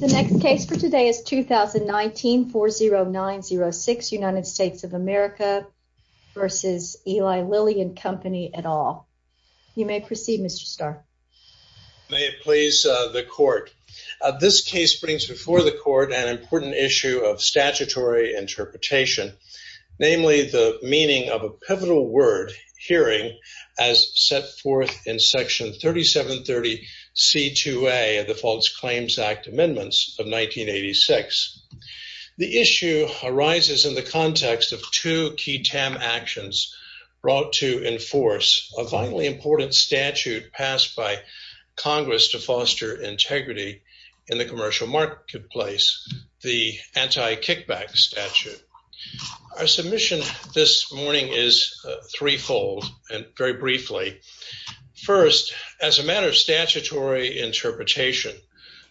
The next case for today is 2019-40906, United States of America v. Eli Lilly & Co. et al. You may proceed, Mr. Starr. May it please the Court. This case brings before the Court an important issue of statutory interpretation, namely the meaning of a pivotal word, hearing, as set forth in Section 3730C2A of the False Claims Act Amendments of 1986. The issue arises in the context of two key TAM actions brought to enforce a vitally important statute passed by Congress to foster integrity in the commercial marketplace, the Anti-Kickback Statute. Our submission this morning is threefold, and very briefly. First, as a matter of statutory interpretation,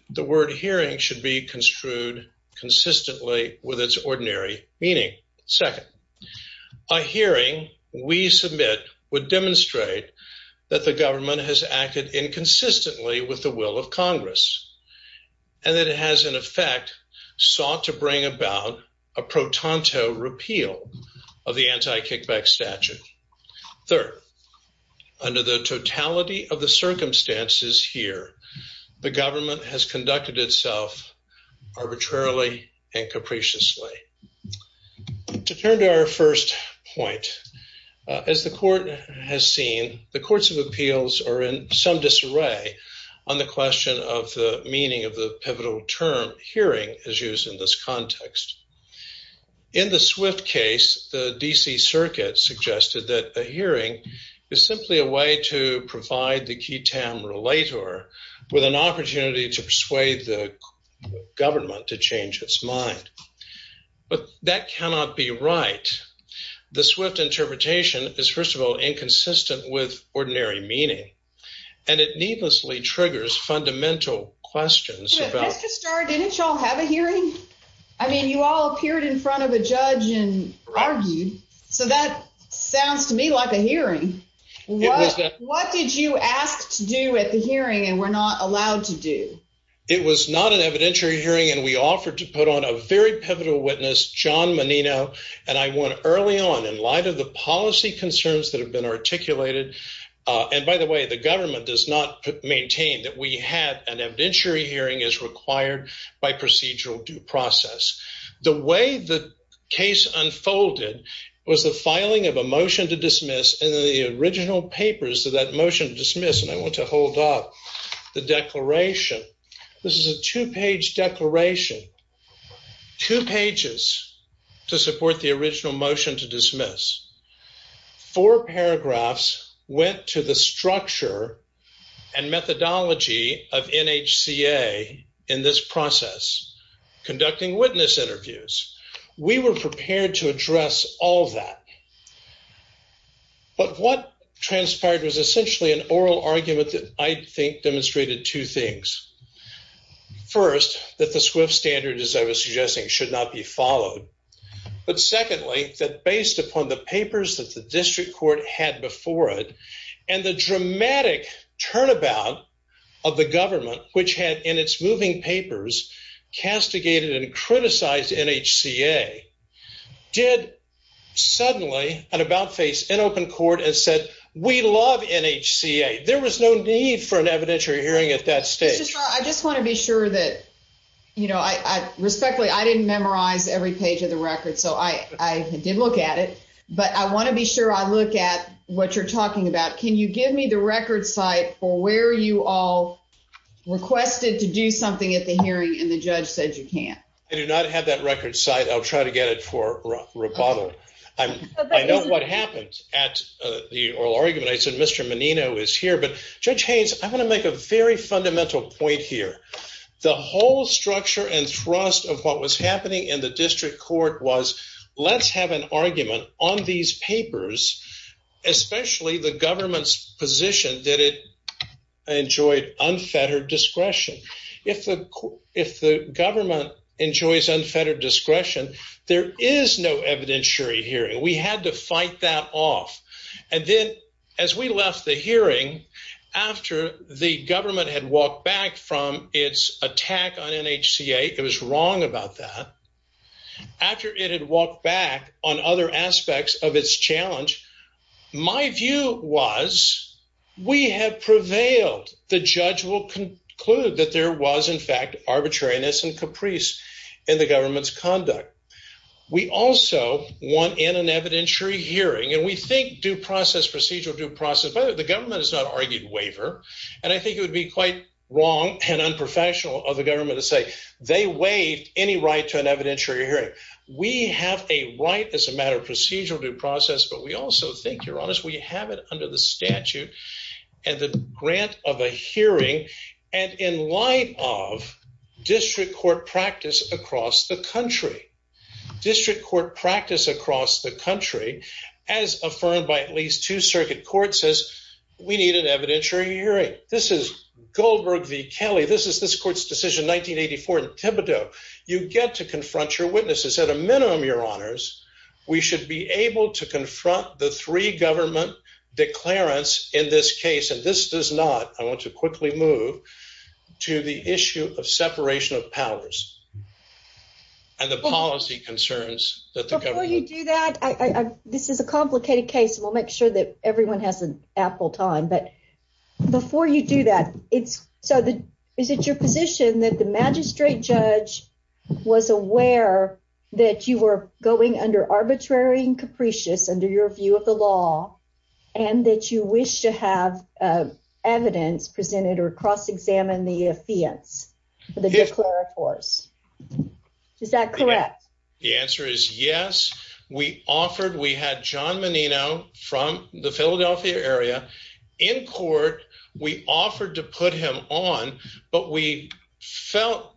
the word hearing should be construed consistently with its ordinary meaning. Second, a hearing we submit would demonstrate that the government has acted inconsistently with the will of Congress, and that it has, in effect, sought to bring about a pro-tanto repeal of the Anti-Kickback Statute. Third, under the totality of the circumstances here, the government has conducted itself arbitrarily and capriciously. To turn to our first point, as the Court has seen, the Courts of Appeals are in some disarray on the question of the meaning of the pivotal term, hearing, as used in this context. In the Swift case, the D.C. Circuit suggested that a hearing is simply a way to provide the key TAM relator with an opportunity to persuade the government to change its mind. But that cannot be right. The Swift interpretation is, first of all, inconsistent with ordinary meaning, and it needlessly triggers fundamental questions about— Mr. Starr, didn't you all have a hearing? I mean, you all appeared in front of a judge and argued, so that sounds to me like a hearing. It was. What did you ask to do at the hearing and were not allowed to do? It was not an evidentiary hearing, and we offered to put on a very pivotal witness, John Menino, and I went early on, in light of the policy concerns that have been articulated—and by the way, the government does not maintain that we had an evidentiary hearing as required by procedural due process. The way the case unfolded was the filing of a motion to dismiss and the original papers of that motion to dismiss, and I want to hold up the declaration. This is a two-page declaration, two pages to support the original motion to dismiss. Four paragraphs went to the structure and methodology of NHCA in this process, conducting witness interviews. We were prepared to address all that, but what transpired was essentially an oral argument that I think demonstrated two things. First, that the Swift standard, as I was suggesting, should not be followed, but secondly, that based upon the papers that the district court had before it and the dramatic turnabout of the government, which had in its moving papers castigated and criticized NHCA, did suddenly and about face an open court and said, we love NHCA. There was no need for an evidentiary hearing at that stage. I just want to be sure that, you know, respectfully, I didn't memorize every page of the record, so I did look at it, but I want to be sure I look at what you're talking about. Can you give me the record site for where you all requested to do something at the hearing and the judge said you can't? I do not have that record site. I'll try to get it for rebuttal. I know what happened at the oral argument. I said Mr. Menino is here, but Judge Haynes, I want to make a very fundamental point here. The whole structure and thrust of what was happening in the district court was let's have an argument on these papers, especially the government's position that it enjoyed unfettered discretion. If the government enjoys unfettered discretion, there is no evidentiary hearing. We had to fight that off. And then as we left the hearing, after the government had walked back from its attack on NHCA, it was wrong about that, after it had walked back on other aspects of its challenge, my view was we have prevailed. The judge will conclude that there was, in fact, arbitrariness and caprice in the government's conduct. We also want in an evidentiary hearing and we think due process, procedural due process. By the way, the government has not argued waiver and I think it would be quite wrong and unprofessional of the government to say they waived any right to an evidentiary hearing. We have a right as a matter of procedural due process, but we also think, you're honest, we have it under the statute and the grant of a hearing and in light of district court practice across the country. District court practice across the country as affirmed by at least two circuit courts says we need an evidentiary hearing. This is Goldberg v. Kelly. This is this court's decision 1984 in Thibodeau. You get to confront your witnesses. At a minimum, your honors, we should be able to confront the three government declarants in this case. And this does not. I want to quickly move to the issue of separation of powers and the policy concerns that the government. You do that. This is a complicated case and we'll make sure that everyone has an apple time. But before you do that, it's so that is it your position that the magistrate judge was aware that you were going under arbitrary and capricious under your view of the law and that you wish to have evidence presented or cross-examine the fiance, the declarators. Is that correct? The answer is yes. We offered we had John Menino from the Philadelphia area in court. We offered to put him on. But we felt,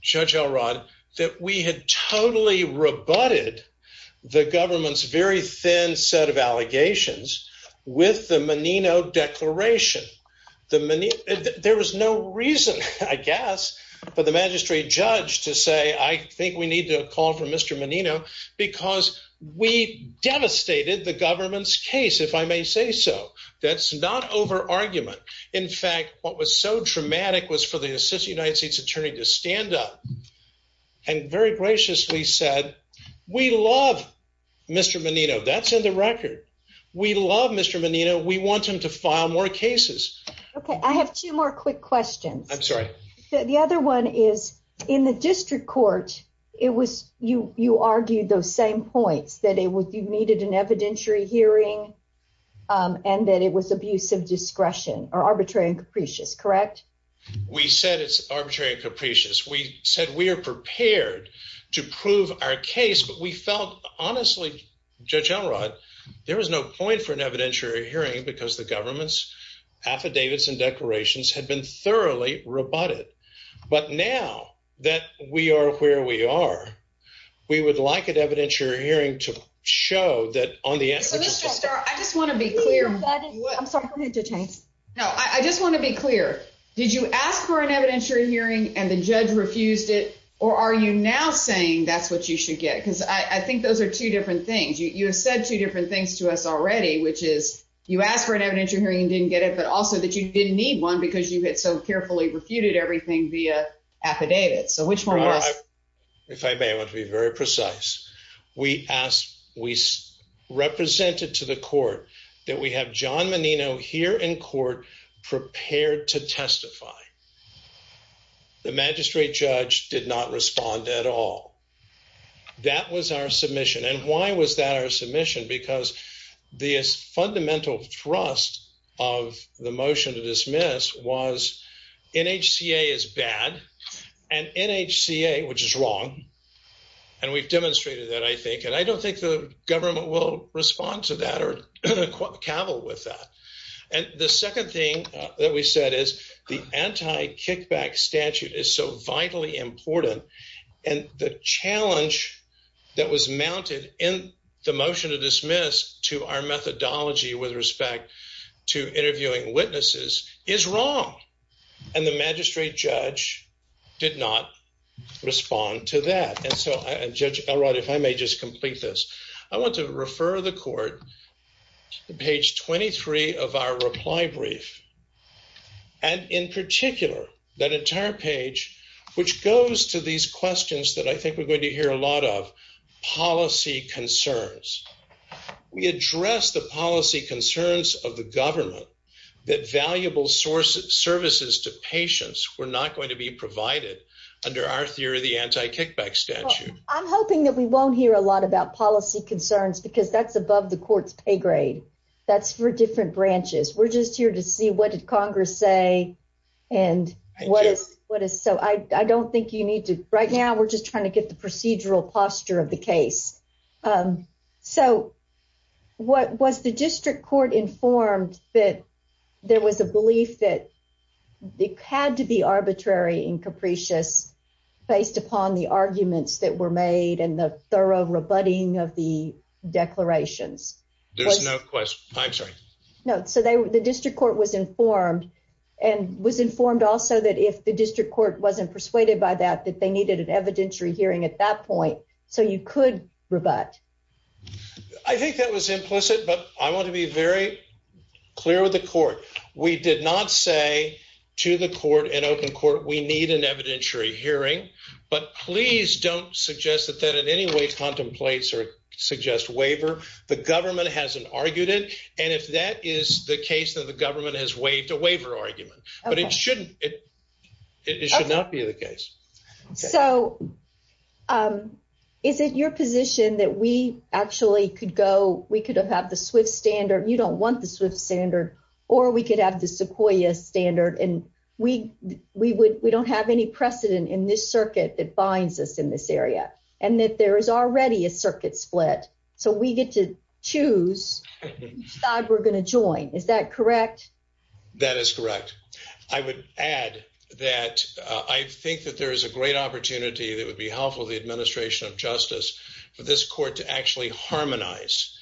Judge Elrod, that we had totally rebutted the government's very thin set of with the Menino declaration. The minute there was no reason, I guess, for the magistrate judge to say, I think we need to call for Mr. Menino because we devastated the government's case, if I may say so. That's not over argument. In fact, what was so traumatic was for the United States attorney to stand up and very graciously said, we love Mr. Menino. That's in the record. We love Mr. Menino. We want him to file more cases. OK, I have two more quick questions. I'm sorry. The other one is in the district court, it was you you argued those same points that it was you needed an evidentiary hearing and that it was abuse of discretion or arbitrary and capricious. Correct. We said it's arbitrary and capricious. We said we are prepared to prove our case. But we felt honestly, Judge Elrod, there was no point for an evidentiary hearing because the government's affidavits and declarations had been thoroughly rebutted. But now that we are where we are, we would like an evidentiary hearing to show that on the. I just want to be clear. I'm sorry. No, I just want to be clear. Did you ask for an evidentiary hearing and the judge refused it? Or are you now saying that's what you should get? Because I think those are two different things. You have said two different things to us already, which is you asked for an evidentiary hearing and didn't get it, but also that you didn't need one because you had so carefully refuted everything via affidavits. So which one? If I may want to be very precise, we asked we represented to the court that we have John Menino here in court prepared to testify. The magistrate judge did not respond at all. That was our submission. And why was that our submission? Because the fundamental thrust of the motion to dismiss was NHCA is bad and NHCA, which is wrong. And we've demonstrated that, I think. And I don't think the government will respond to that or cavil with that. And the second thing that we said is the anti-kickback statute is so vitally important. And the challenge that was mounted in the motion to dismiss to our methodology with respect to interviewing witnesses is wrong. And the magistrate judge did not respond to that. And so, Judge Elrod, if I may just complete this, I want to refer the court to page 23 of our reply brief. And in particular, that entire page, which goes to these questions that I think we're going to hear a lot of policy concerns, we address the policy concerns of the government that valuable sources, services to patients were not going to be provided under our theory, the anti-kickback statute. I'm hoping that we won't hear a lot about policy concerns because that's above the court's pay grade. That's for different branches. We're just here to see what Congress say and what is what is so I don't think you need to. Right now, we're just trying to get the procedural posture of the case. So what was the district court informed that there was a belief that they had to be arbitrary and capricious based upon the arguments that were made and the thorough rebutting of the declarations? There's no question. I'm sorry. No. So the district court was informed and was informed also that if the district court wasn't persuaded by that, that they needed an evidentiary hearing at that point. So you could rebut. I think that was implicit, but I want to be very clear with the court. We did not say to the court in open court, we need an evidentiary hearing. But please don't suggest that that in any way contemplates or suggest waiver. The government hasn't argued it. And if that is the case, then the government has waived a waiver argument. But it shouldn't. It should not be the case. So is it your position that we actually could go we could have had the swift standard? You don't want the swift standard or we could have the sequoia standard. And we we would we don't have any precedent in this circuit that binds us in this area and that there is already a circuit split. So we get to choose that we're going to join. Is that correct? That is correct. I would add that I think that there is a great opportunity that would be helpful to the administration of justice for this court to actually harmonize.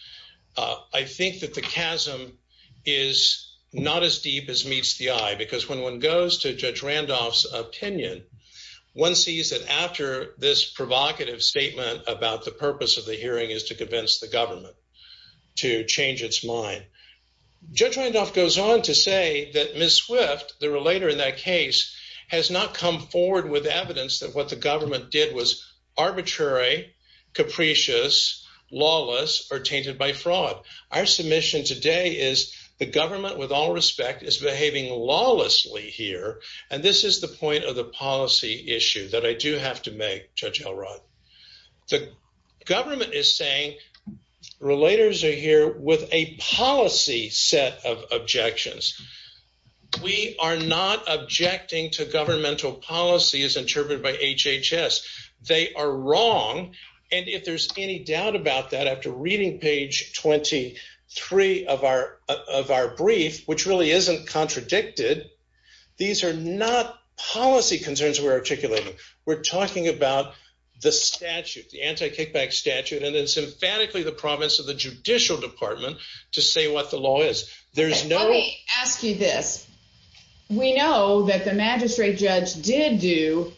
I think that the chasm is not as deep as meets the eye, because when one goes to Judge Randolph's opinion, one sees that after this provocative statement about the purpose of the hearing is to convince the government to change its mind. Judge Randolph goes on to say that Ms. Swift, the relator in that case, has not come forward with evidence that what the government did was arbitrary, capricious, lawless or tainted by fraud. Our submission today is the government, with all respect, is behaving lawlessly here. And this is the point of the policy issue that I do have to make. Judge Elrod, the government is saying relators are here with a policy set of objections. We are not objecting to governmental policy as interpreted by HHS. They are wrong. And if there's any doubt about that, after reading page 23 of our of our brief, which really isn't contradicted, these are not policy concerns we're articulating. We're talking about the statute, the anti-kickback statute, and it's emphatically the province of the judicial department to say what the law is. There's no. Let me ask you this. We know that the magistrate judge did do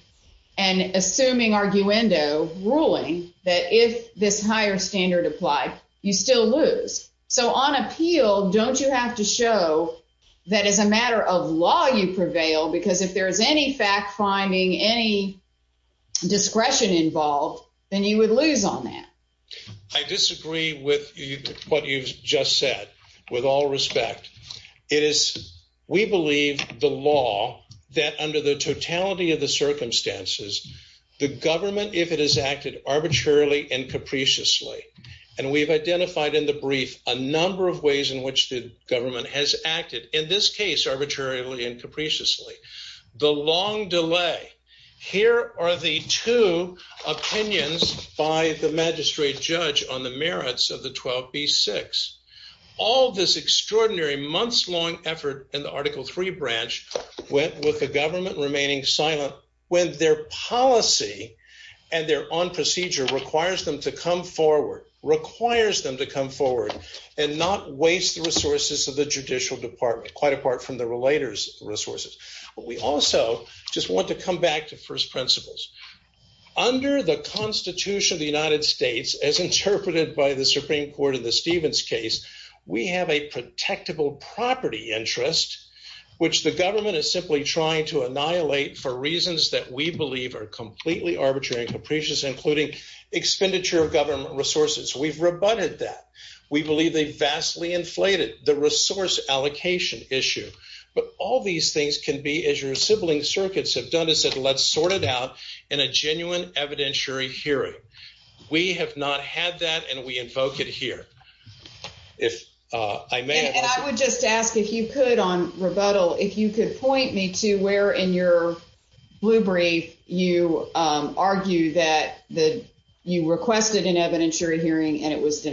an assuming arguendo ruling that if this higher standard applied, you still lose. So on appeal, don't you have to show that as a matter of law, you prevail? Because if there is any fact finding, any discretion involved, then you would lose on that. I disagree with what you've just said. With all respect, it is, we believe, the law that under the totality of the circumstances, the government, if it has acted arbitrarily and capriciously, and we've identified in the brief a number of ways in which the government has acted, in this case, arbitrarily and capriciously. The long delay. Here are the two opinions by the magistrate judge on the merits of the 12B6. All this extraordinary months long effort in the Article 3 branch went with the government remaining silent when their policy and their own procedure requires them to come forward, requires them to come forward and not waste the resources of the judicial department, quite apart from the relator's resources. But we also just want to come back to first principles. Under the Constitution of the United States, as interpreted by the Supreme Court in the Stevens case, we have a protectable property interest, which the government is simply trying to annihilate for reasons that we believe are completely arbitrary and capricious, including expenditure of government resources. We've rebutted that. We believe they vastly inflated. The resource allocation issue. But all these things can be, as your sibling circuits have done, is that let's sort it out in a genuine evidentiary hearing. We have not had that. And we invoke it here. If I may, I would just ask if you could on rebuttal, if you could point me to where in your blue brief you argue that the you requested an evidentiary hearing and it was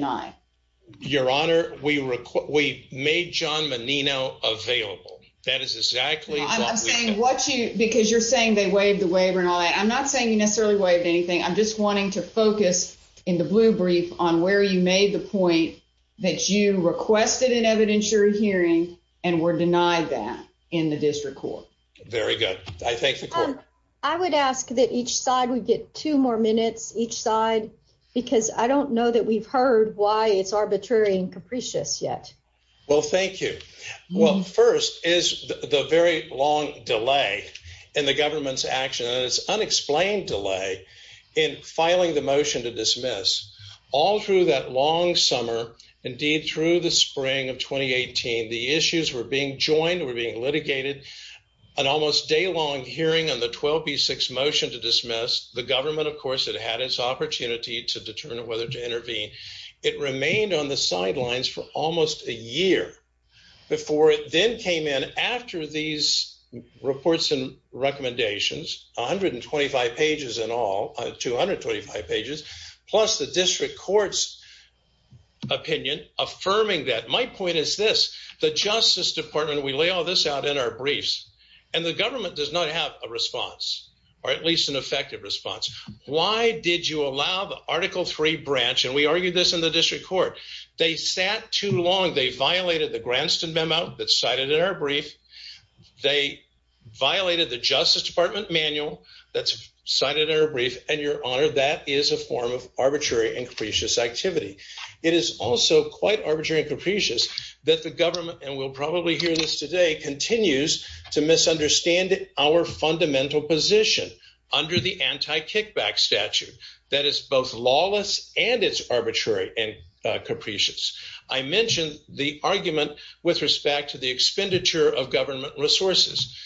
made John Menino available. That is exactly what you because you're saying they waived the waiver and all that. I'm not saying you necessarily waived anything. I'm just wanting to focus in the blue brief on where you made the point that you requested an evidentiary hearing and were denied that in the district court. Very good. I think I would ask that each side would get two more minutes each side, because I don't know that we've heard why it's arbitrary and capricious yet. Well, thank you. Well, first is the very long delay in the government's action. And it's unexplained delay in filing the motion to dismiss all through that long summer. Indeed, through the spring of twenty eighteen, the issues were being joined, were being litigated, an almost daylong hearing on the 12B6 motion to dismiss the government. Of course, it had its opportunity to determine whether to intervene. It remained on the sidelines for almost a year before it then came in after these reports and recommendations, 125 pages and all 225 pages, plus the district court's opinion affirming that my point is this, the Justice Department, we lay all this out in our briefs and the government does not have a response or at least an effective response. Why did you allow the Article three branch? And we argued this in the district court. They sat too long. They violated the Granston memo that cited in our brief. They violated the Justice Department manual that's cited in our brief. And your honor, that is a form of arbitrary and capricious activity. It is also quite arbitrary and capricious that the government and we'll probably hear this today, continues to misunderstand our fundamental position under the anti kickback statute that is both lawless and it's arbitrary and capricious. I mentioned the argument with respect to the expenditure of government resources.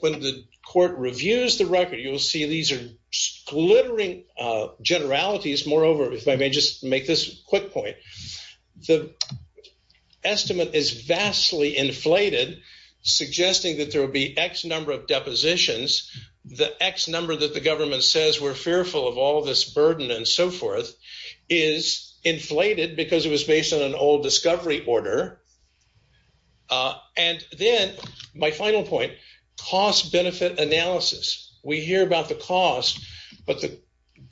When the court reviews the record, you will see these are glittering generalities. Moreover, if I may just make this quick point, the estimate is vastly inflated, suggesting that there will be X number of depositions, the X number that the government says we're fearful of all this burden and so forth is inflated because it was based on an old discovery order. And then my final point, cost benefit analysis, we hear about the cost, but the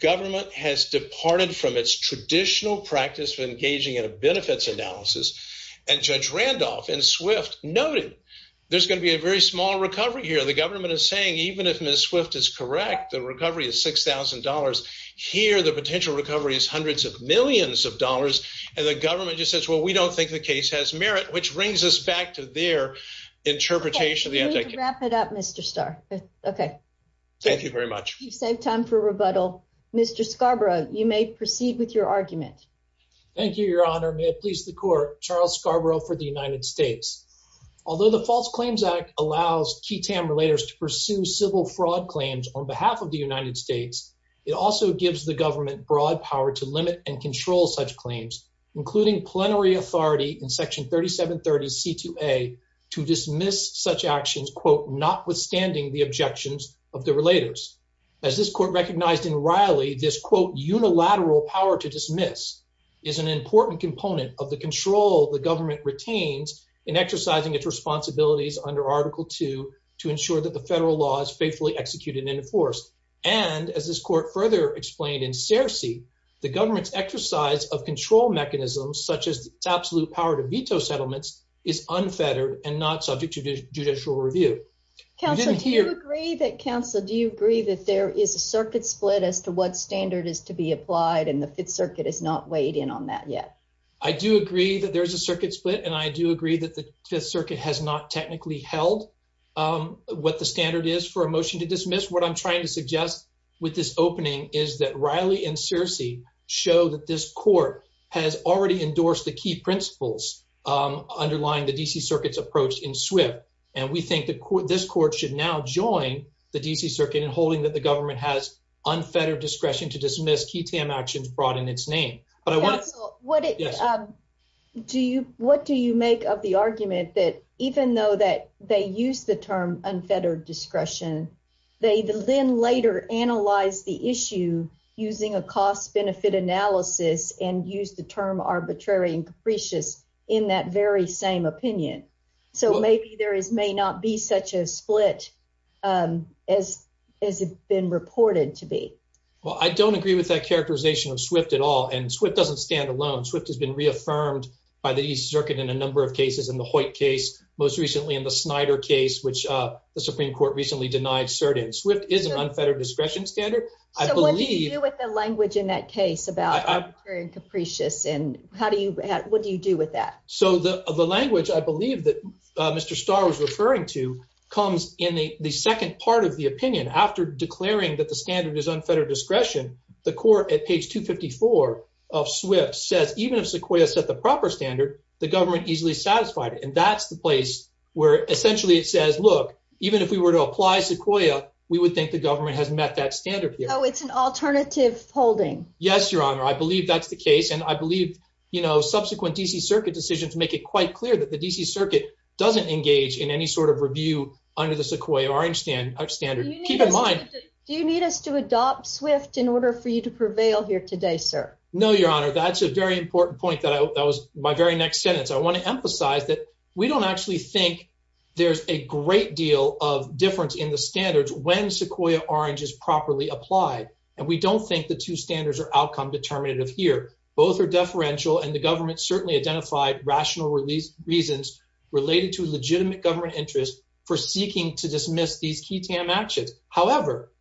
government has departed from its traditional practice of engaging in a benefits analysis. And Judge Randolph and Swift noted there's going to be a very small recovery here. The government is saying, even if Ms. Swift is correct, the recovery is six thousand dollars. Here, the potential recovery is hundreds of millions of dollars. And the government just says, well, we don't think the case has merit, which brings us back to their interpretation. We're going to wrap it up, Mr. Starr. Thank you very much. You save time for rebuttal. Mr. Scarborough, you may proceed with your argument. Thank you, Your Honor. May it please the court, Charles Scarborough for the United States. Although the False Claims Act allows key TAM relators to pursue civil fraud claims on behalf of the United States, it also gives the government broad power to limit and control such claims, including plenary authority in Section 3730 C2A to dismiss such actions, quote, notwithstanding the objections of the relators. As this court recognized in Riley, this, quote, unilateral power to dismiss is an important component of the control the government retains in exercising its responsibilities under Article two to ensure that the federal law is faithfully executed and enforced. And as this court further explained in Searcy, the government's exercise of control mechanisms such as its absolute power to veto settlements is unfettered and not subject to judicial review. Counselor, do you agree that, Counselor, do you agree that there is a circuit split as to what standard is to be applied and the Fifth Circuit is not weighed in on that yet? I do agree that there is a circuit split and I do agree that the Fifth Circuit has not technically held what the standard is for a motion to dismiss. What I'm trying to suggest with this opening is that Riley and Searcy show that this court has already endorsed the key principles underlying the D.C. Circuit's approach in Swift. And we think that this court should now join the D.C. Circuit in holding that the government has unfettered discretion to dismiss key actions brought in its name. But I want to what do you what do you make of the argument that even though that they use the term unfettered discretion, they then later analyze the issue using a cost benefit analysis and use the term arbitrary and capricious in that very same opinion. So maybe there is may not be such a split as as it's been reported to be. Well, I don't agree with that characterization of Swift at all. And Swift doesn't stand alone. Swift has been reaffirmed by the East Circuit in a number of cases in the Hoyt case, most recently in the Snyder case, which the Supreme Court recently denied cert in. Swift is an unfettered discretion standard. I believe with the language in that case about capricious and how do you what do you do with that? So the language I believe that Mr. Starr was referring to comes in the second part of the opinion after declaring that the standard is unfettered discretion. The court at page 254 of Swift says even if Sequoia set the proper standard, the government easily satisfied. And that's the place where essentially it says, look, even if we were to apply Sequoia, we would think the government has met that standard. You know, it's an alternative holding. Yes, your honor. I believe that's the case. And I believe, you know, subsequent D.C. Circuit decisions make it quite clear that the D.C. Circuit doesn't engage in any sort of review under the Sequoia Orange Standard standard. Keep in mind, do you need us to adopt Swift in order for you to prevail here today, sir? No, your honor. That's a very important point that that was my very next sentence. I want to emphasize that we don't actually think there's a great deal of difference in the standards when Sequoia Orange is properly applied. And we don't think the two standards are outcome determinative here. Both are deferential. And the government certainly identified rational reasons related to legitimate government interest for seeking to dismiss these key TAM actions. However,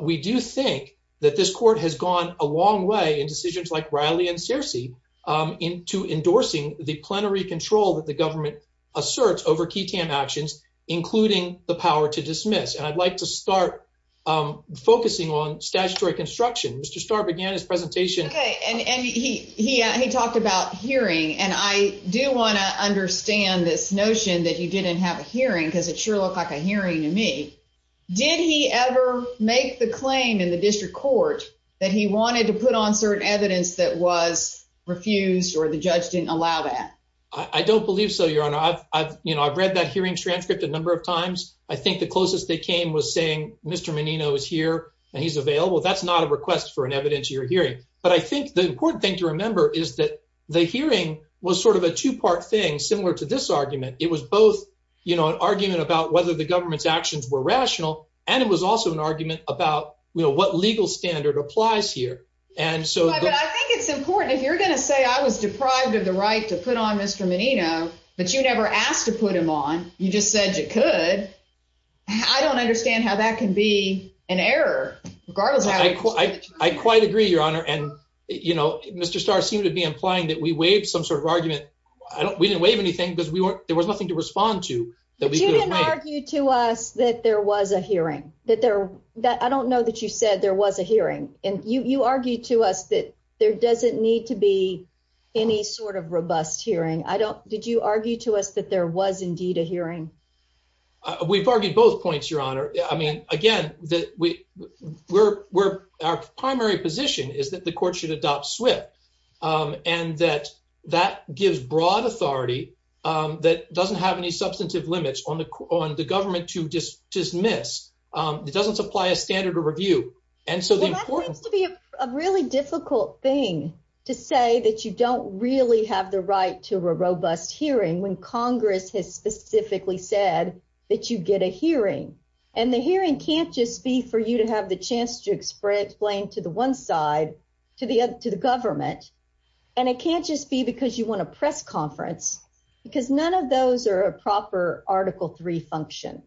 we do think that this court has gone a long way in decisions like Riley and Searcy to endorsing the plenary control that the government asserts over key TAM actions, including the power to dismiss. And I'd like to start focusing on statutory construction. Mr. Starr began his presentation. OK, and he he he talked about hearing. And I do want to understand this notion that you didn't have a hearing because it sure looked like a hearing to me. Did he ever make the claim in the district court that he wanted to put on certain evidence that was refused or the judge didn't allow that? I don't believe so, your honor. I've you know, I've read that hearing transcript a number of times. I think the closest they came was saying Mr. Menino is here and he's available. That's not a request for an evidence. You're hearing. But I think the important thing to remember is that the hearing was sort of a two part thing similar to this argument. It was both, you know, an argument about whether the government's actions were rational. And it was also an argument about what legal standard applies here. And so I think it's important if you're going to say I was deprived of the right to put on Mr. Menino, but you never asked to put him on. You just said you could. I don't understand how that can be an error. Regardless, I quite agree, your honor. And, you know, Mr. Starr seemed to be implying that we waived some sort of argument. I don't we didn't waive anything because we weren't there was nothing to respond to that. We didn't argue to us that there was a hearing that there that I don't know that you said there was a hearing. And you argued to us that there doesn't need to be any sort of robust hearing. Did you argue to us that there was indeed a hearing? We've argued both points, your honor. I mean, again, that we we're we're our primary position is that the court should adopt swift and that that gives broad authority that doesn't have any substantive limits on the on the government to just dismiss. It doesn't supply a standard of review. And so that seems to be a really difficult thing to say that you don't really have the right to a robust hearing when Congress has specifically said that you get a hearing and the hearing can't just be for you to have the chance to explain to the one side, to the to the government. And it can't just be because you want to press conference because none of those are a proper Article three function.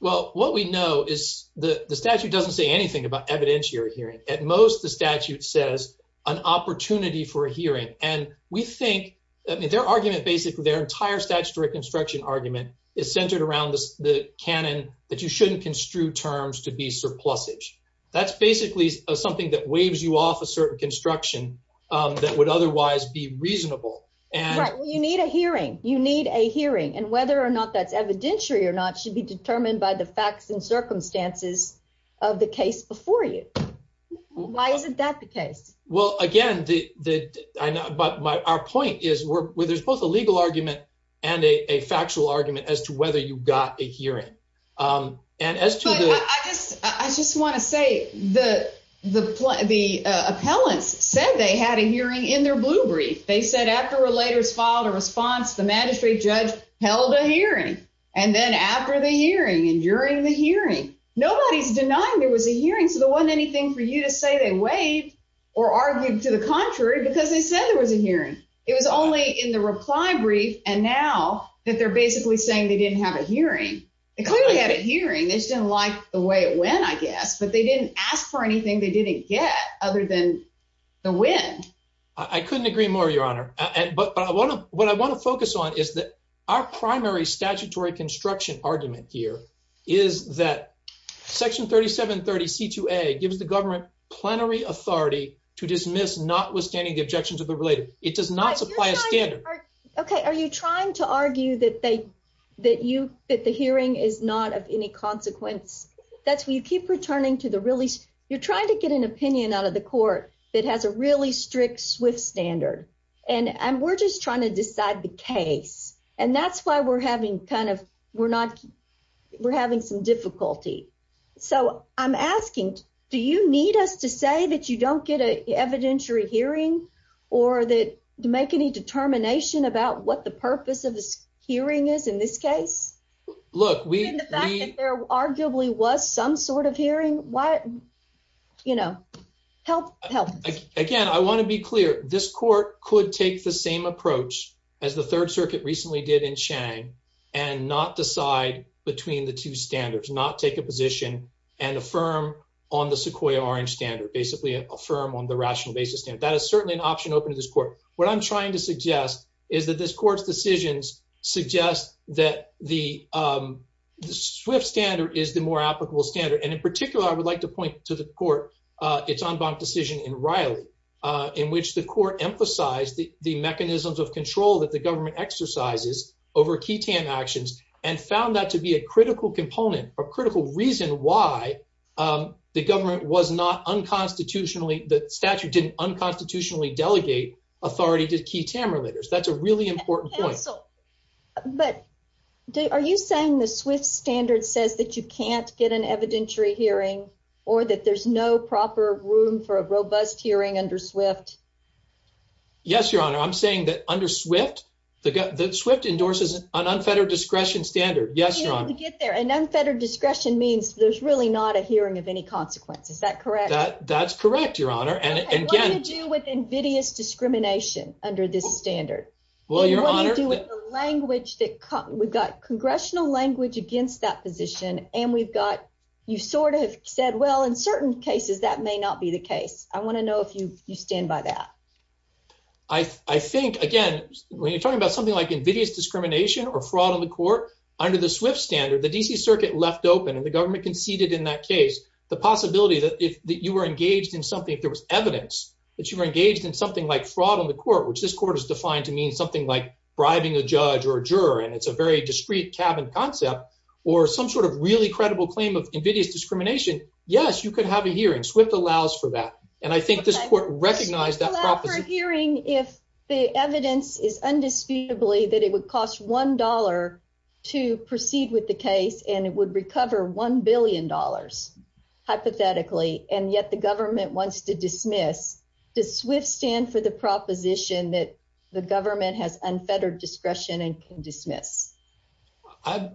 Well, what we know is the statute doesn't say anything about evidentiary hearing. At most, the statute says an opportunity for a hearing. And we think their argument, basically their entire statutory construction argument is centered around the canon that you shouldn't construe terms to be surplusage. That's basically something that waves you off a certain construction that would otherwise be reasonable. And you need a hearing. You need a hearing. And whether or not that's evidentiary or not should be determined by the facts and circumstances of the case before you. Why isn't that the case? Well, again, the I know, but my point is where there's both a legal argument and a factual argument as to whether you got a hearing. And as I just, I just want to say the the the appellants said they had a hearing in their blue brief. They said after relators filed a response. The magistrate judge held a hearing. And then after the hearing and during the hearing. Nobody's denying there was a hearing. There wasn't anything for you to say they waived or argued to the contrary, because they said there was a hearing. It was only in the reply brief. And now that they're basically saying they didn't have a hearing. They clearly had a hearing. They just didn't like the way it went, I guess. But they didn't ask for anything. They didn't get other than the win. I couldn't agree more, Your Honor. But I want to what I want to focus on is that our primary statutory construction argument here is that Section 3730 C2A gives the government plenary authority to dismiss notwithstanding the objections of the related. It does not supply a standard. Okay. Are you trying to argue that they that you that the hearing is not of any consequence? That's what you keep returning to the release. You're trying to get an opinion out of the court that has a really strict, swift standard. And we're just trying to decide the case. And that's why we're having kind of we're not. We're having some difficulty. So I'm asking, do you need us to say that you don't get an evidentiary hearing or that make any determination about what the purpose of this hearing is in this case? Look, we arguably was some sort of hearing. What? You know, help again. I want to be clear. This court could take the same approach as the Third Circuit recently did in Chang and not decide between the two standards, not take a position and affirm on the Sequoia Orange standard, basically affirm on the rational basis. And that is certainly an option open to this court. What I'm trying to suggest is that this court's decisions suggest that the swift standard is the more applicable standard. And in particular, I would like to point to the court. It's unbunked decision in Riley, in which the court emphasized the mechanisms of control that the government exercises over key actions and found that to be a critical component or critical reason why the government was not unconstitutionally. The statute didn't unconstitutionally delegate authority to key Tamra leaders. That's a really important point. But are you saying the swift standard says that you can't get an evidentiary hearing or that there's no proper room for a robust hearing under swift? Yes, Your Honor. I'm saying that under swift, the swift endorses an unfettered discretion standard. Yes, Your Honor. To get there. An unfettered discretion means there's really not a hearing of any consequence. Is that correct? That's correct, Your Honor. And what do you do with invidious discrimination under this standard? Well, Your Honor. And what do you do with the language that we've got congressional language against that and we've got you sort of said, well, in certain cases, that may not be the case. I want to know if you stand by that. I think, again, when you're talking about something like invidious discrimination or fraud on the court under the swift standard, the D.C. Circuit left open and the government conceded in that case, the possibility that if you were engaged in something, if there was evidence that you were engaged in something like fraud on the court, which this court is defined to mean something like bribing a judge or it's a very discreet cabin concept or some sort of really credible claim of invidious discrimination. Yes, you could have a hearing swift allows for that. And I think this court recognized that hearing if the evidence is undisputably that it would cost one dollar to proceed with the case and it would recover one billion dollars hypothetically. And yet the government wants to dismiss the swift stand for the proposition that the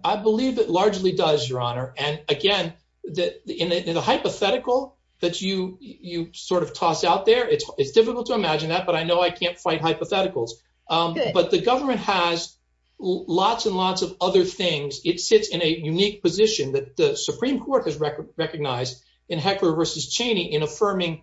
I believe it largely does, Your Honor. And again, that in the hypothetical that you you sort of toss out there, it's difficult to imagine that. But I know I can't fight hypotheticals, but the government has lots and lots of other things. It sits in a unique position that the Supreme Court has recognized in Hecker versus Cheney in affirming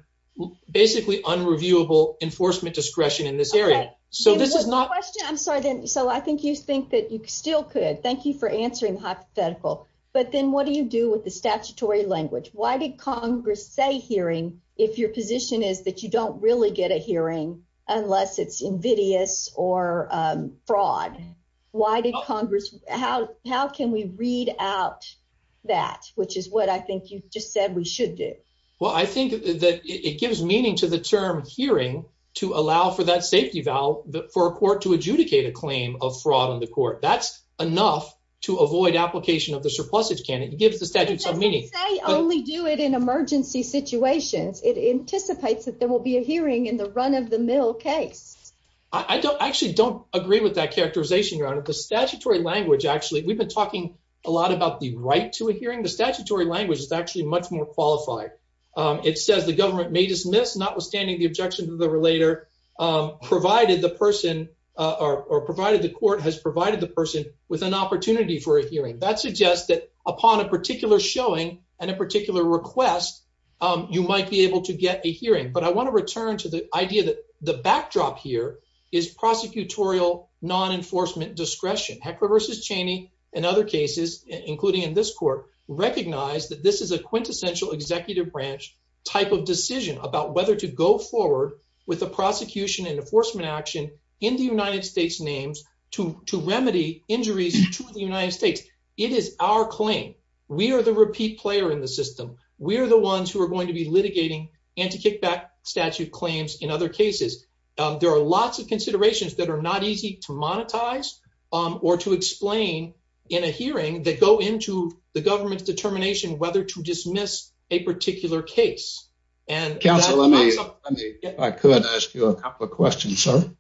basically unreviewable enforcement discretion in this area. So this is not I'm sorry. So I think you think that you still could. Thank you for answering hypothetical. But then what do you do with the statutory language? Why did Congress say hearing if your position is that you don't really get a hearing unless it's invidious or fraud? Why did Congress? How how can we read out that, which is what I think you just said we should do? Well, I think that it gives meaning to the term hearing to allow for that safety valve for a court to adjudicate a claim of fraud on the court. That's enough to avoid application of the surpluses. Can it give the statute some meaning? I only do it in emergency situations. It anticipates that there will be a hearing in the run of the mill case. I don't actually don't agree with that characterization around the statutory language. Actually, we've been talking a lot about the right to a hearing. The statutory language is actually much more qualified. It says the government may dismiss notwithstanding the objection to the relator, provided the person or provided the court has provided the person with an opportunity for a hearing. That suggests that upon a particular showing and a particular request, you might be able to get a hearing. But I want to return to the idea that the backdrop here is prosecutorial non-enforcement discretion. Heckler versus Cheney and other cases, including in this court, recognize that this is a quintessential executive branch type of decision about whether to go forward with a prosecution and enforcement action in the United States names to remedy injuries to the United States. It is our claim. We are the repeat player in the system. We are the ones who are going to be litigating anti-kickback statute claims in other cases. There are lots of considerations that are not easy to monetize or to explain in a hearing that go into the government's determination whether to dismiss a particular case. Counselor, let me, if I could, ask you a couple of questions, sir.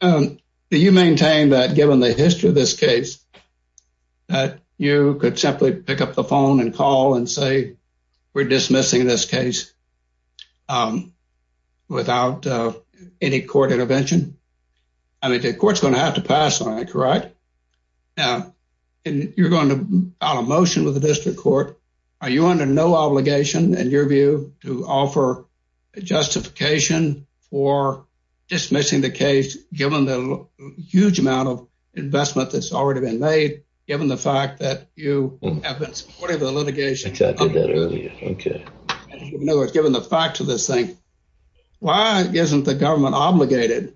Do you maintain that, given the history of this case, that you could simply pick up the phone and call and say, we're dismissing this case without any court intervention? I mean, the court's going to have to pass on it, correct? And you're going to file a motion with the district court. Are you under no obligation, in your view, to offer a justification for dismissing the case, given the huge amount of investment that's already been made, given the fact that you have been supportive of litigation? I did that earlier. Okay. In other words, given the fact of this thing, why isn't the government obligated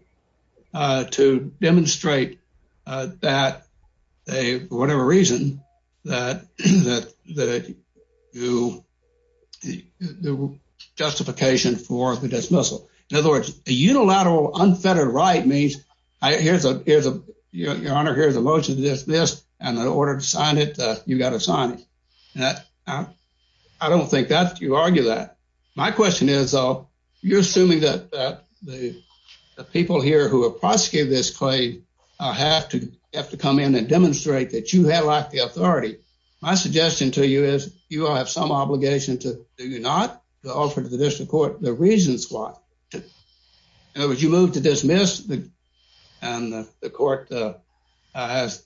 to demonstrate that they, for whatever reason, that they do justification for the dismissal? In other words, a unilateral unfettered right means, here's a motion to dismiss, and in order to sign it, you've got to sign it. I don't think you argue that. My question is, though, you're assuming that the people here who have prosecuted this have to come in and demonstrate that you have the authority. My suggestion to you is, you all have some obligation to, do you not, to offer to the district court the reasons why. In other words, you move to dismiss, and the court has,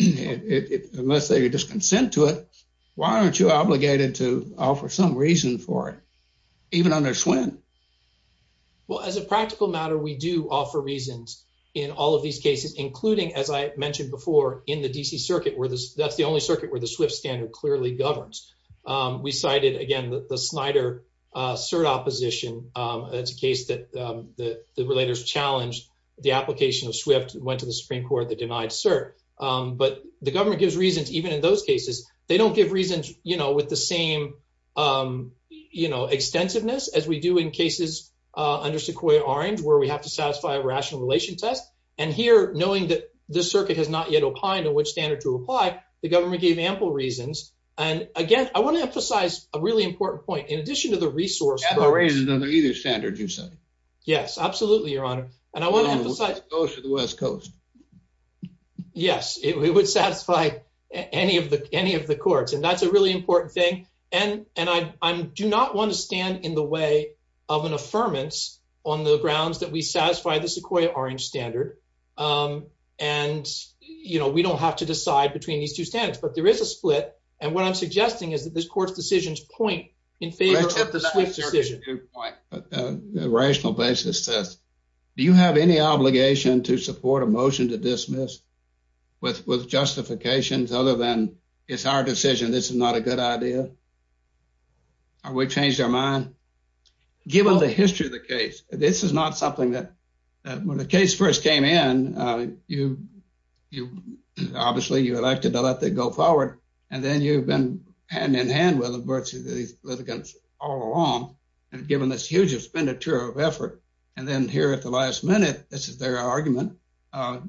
unless they just consent to it, why aren't you obligated to offer some reason for it, even under SWIN? Well, as a practical matter, we do offer reasons in all of these cases, including, as I mentioned before, in the DC Circuit, where that's the only circuit where the SWIFT standard clearly governs. We cited, again, the Snyder cert opposition. It's a case that the relators challenged the application of SWIFT, went to the Supreme Court, they denied cert. But the government gives reasons, even in those cases. They don't give reasons with the same extensiveness as we do in cases under Sequoia-Orange, where we have to satisfy a rational relation test. And here, knowing that this circuit has not yet opined on which standard to apply, the government gave ample reasons. And again, I want to emphasize a really important point. In addition to the resource- Ample reasons under either standard, you say? Yes, absolutely, Your Honor. And I want to emphasize- The coast or the West Coast? Yes, it would satisfy any of the courts. And that's a really important thing. And I do not want to stand in the way of an affirmance on the grounds that we satisfy the Sequoia-Orange standard. And, you know, we don't have to decide between these two standards. But there is a split. And what I'm suggesting is that this court's decisions point in favor of the SWIFT decision. But the rational basis says, do you have any obligation to support a motion to dismiss with justifications other than, it's our decision, this is not a good idea? Have we changed our mind? Given the history of the case, this is not something that- When the case first came in, obviously, you elected to let that go forward. And then you've been hand-in-hand with these litigants all along. And given this huge expenditure of effort. And then here at the last minute, this is their argument,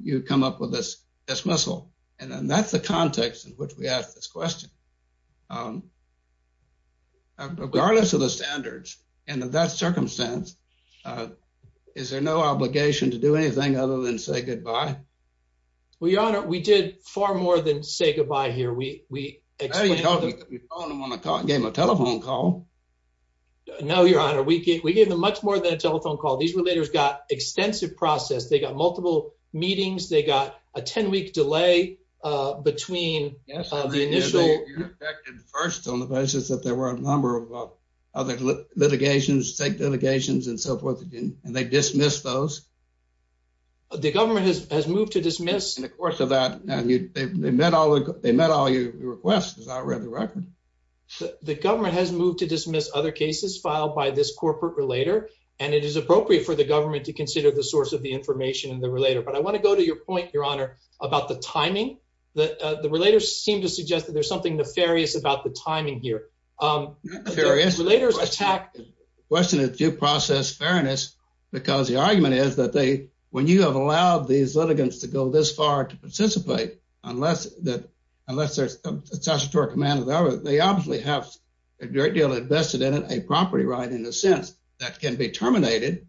you come up with this dismissal. And then that's the context in which we ask this question. Regardless of the standards and of that circumstance, is there no obligation to do anything other than say goodbye? Well, Your Honor, we did far more than say goodbye here. We explained- Well, you told me that we phoned them on the call, gave them a telephone call. No, Your Honor. We gave them much more than a telephone call. These litigants got extensive process. They got multiple meetings. They got a 10-week delay between the initial- Yes, you affected first on the basis that there were a number of other litigations, state litigations, and so forth. And they dismissed those. The government has moved to dismiss- In the course of that, they met all your requests, as I read the record. The government has moved to dismiss other cases filed by this corporate relator. And it is appropriate for the government to consider the source of the information in the relator. But I want to go to your point, Your Honor, about the timing. The relators seem to suggest that there's something nefarious about the timing here. Not nefarious. Relators attack- The question is due process fairness, because the argument is that they, when you have allowed these litigants to go this far to participate, unless there's a statutory command, they obviously have a great deal invested in it, a property right, in a sense, that can be terminated,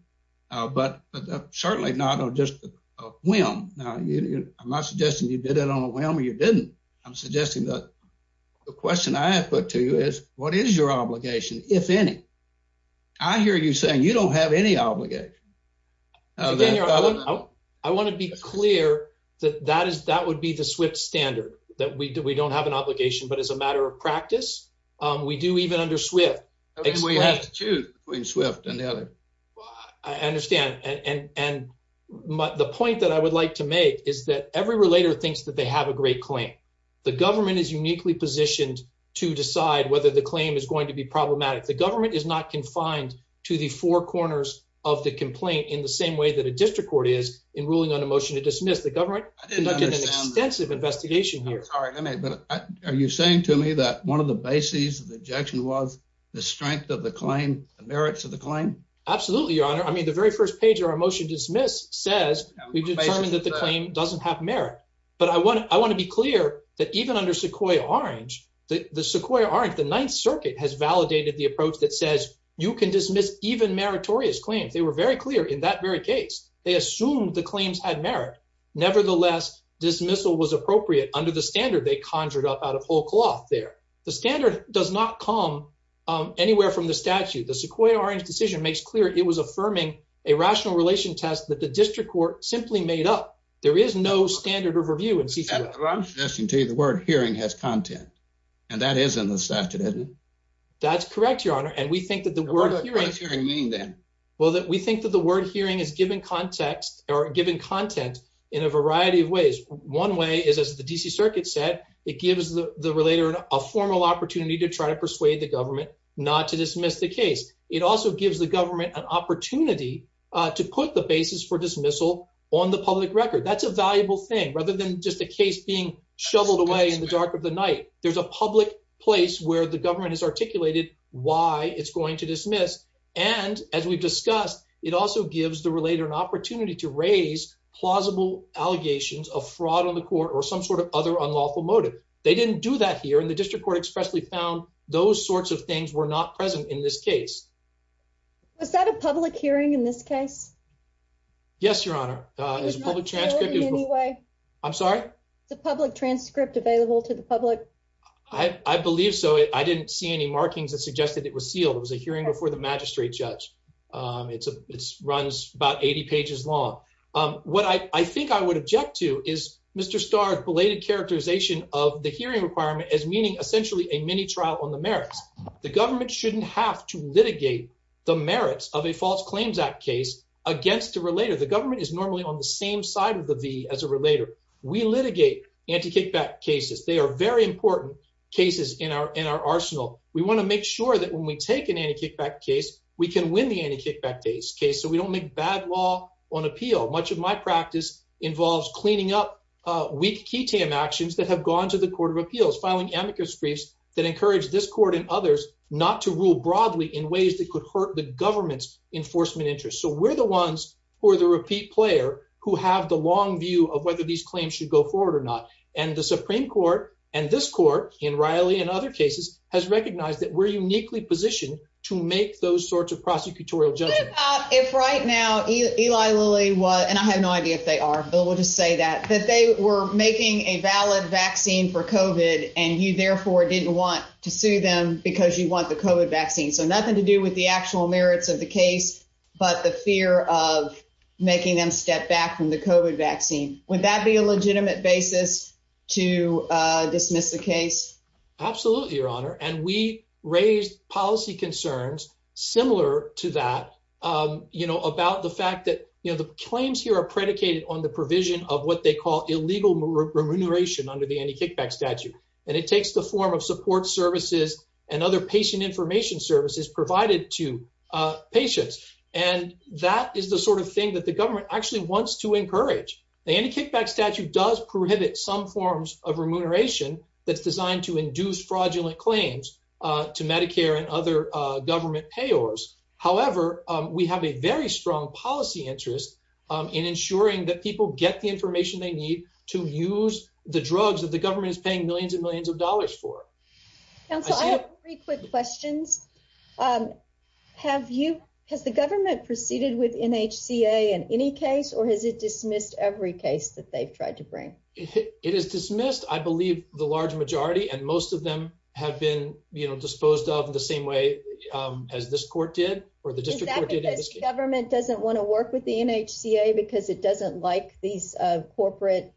but certainly not on just a whim. Now, I'm not suggesting you did it on a whim or you didn't. I'm suggesting that the question I have put to you is, what is your obligation, if any? I hear you saying you don't have any obligation. I want to be clear that that would be the SWIFT standard, that we don't have an obligation, but as a matter of practice, we do even under SWIFT. We have to choose between SWIFT and the other. I understand. And the point that I would like to make is that every relator thinks that they have a great claim. The government is uniquely positioned to decide whether the claim is going to be problematic. The government is not confined to the four corners of the complaint in the same way that a district court is in ruling on a motion to dismiss. The government conducted an extensive investigation here. I'm sorry, but are you saying to me that one of the bases of the objection was the strength of the claim, the merits of the claim? Absolutely, your honor. I mean, the very first page of our motion to dismiss says we've determined that the claim doesn't have merit. But I want to be clear that even under Sequoyah Orange, the Sequoyah Orange, the Ninth Circuit has validated the approach that says you can dismiss even meritorious claims. They were very clear in that very case. They assumed the claims had merit. Nevertheless, dismissal was appropriate under the standard they conjured up out of whole cloth there. The standard does not come anywhere from the statute. The Sequoyah Orange decision makes clear it was affirming a rational relation test that the district court simply made up. There is no standard of review in CCDF. I'm suggesting to you the word hearing has content, and that is in the statute, isn't it? That's correct, your honor. And we think that the word hearing... What does hearing mean then? Well, we think that the word hearing is giving context or giving content in a variety of ways. One way is, as the D.C. Circuit said, it gives the relator a formal opportunity to try to persuade the government not to dismiss the case. It also gives the government an opportunity to put the basis for dismissal on the public record. That's a valuable thing. Rather than just a case being shoveled away in the dark of the night, there's a public place where the government has articulated why it's going to dismiss. And as we've discussed, it also gives the relator an opportunity to raise plausible allegations of fraud on the court or some sort of other unlawful motive. They didn't do that here, and the district court expressly found those sorts of things were not present in this case. Was that a public hearing in this case? Yes, your honor. It was not sealed in any way. I'm sorry? It's a public transcript available to the public. I believe so. I didn't see any markings that suggested it was sealed. It was a hearing before the magistrate judge. It runs about 80 pages long. What I think I would object to is Mr. Starr's belated characterization of the hearing requirement as meaning essentially a mini trial on the merits. The government shouldn't have to litigate the merits of a False Claims Act case against the government is normally on the same side of the V as a relator. We litigate anti-kickback cases. They are very important cases in our in our arsenal. We want to make sure that when we take an anti-kickback case, we can win the anti-kickback case so we don't make bad law on appeal. Much of my practice involves cleaning up weak key tam actions that have gone to the Court of Appeals, filing amicus briefs that encourage this court and others not to rule broadly in ways that could hurt the government's enforcement interest. So we're the ones who are the repeat player, who have the long view of whether these claims should go forward or not. And the Supreme Court and this court in Riley and other cases has recognized that we're uniquely positioned to make those sorts of prosecutorial judgment. If right now Eli Lilly was and I have no idea if they are, but we'll just say that that they were making a valid vaccine for COVID. And you therefore didn't want to sue them because you want the COVID vaccine. So nothing to do with the actual merits of the case, but the fear of making them step back from the COVID vaccine. Would that be a legitimate basis to dismiss the case? Absolutely, Your Honor. And we raised policy concerns similar to that, you know, about the fact that, you know, the claims here are predicated on the provision of what they call illegal remuneration under the anti-kickback statute. And it takes the form of support services and other patient information services provided to patients. And that is the sort of thing that the government actually wants to encourage. The anti-kickback statute does prohibit some forms of remuneration that's designed to induce fraudulent claims to Medicare and other government payors. However, we have a very strong policy interest in ensuring that people get the information they need to use the drugs that the government is paying millions and millions of dollars for. Counsel, I have three quick questions. Has the government proceeded with NHCA in any case, or has it dismissed every case that they've tried to bring? It is dismissed, I believe, the large majority. And most of them have been, you know, disposed of the same way as this court did or the district court did. Is that because the government doesn't want to work with the NHCA because it doesn't like these corporate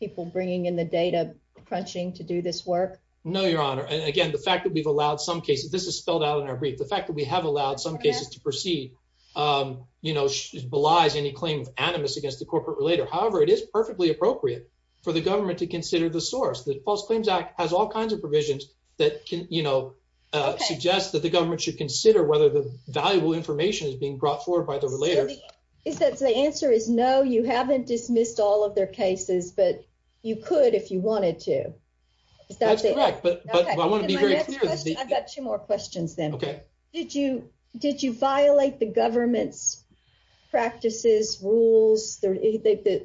people bringing in the data crunching to do this work? No, Your Honor. And again, the fact that we've allowed some cases, this is spelled out in our brief, the fact that we have allowed some cases to proceed, you know, belies any claim of animus against the corporate relator. However, it is perfectly appropriate for the government to consider the source. The False Claims Act has all kinds of provisions that can, you know, suggest that the government should consider whether the valuable information is being brought forward by the relator. Is that the answer is no, you haven't dismissed all of their cases, but you could if you wanted to. That's correct, but I want to be very clear. I've got two more questions then. Okay. Did you violate the government's practices, rules?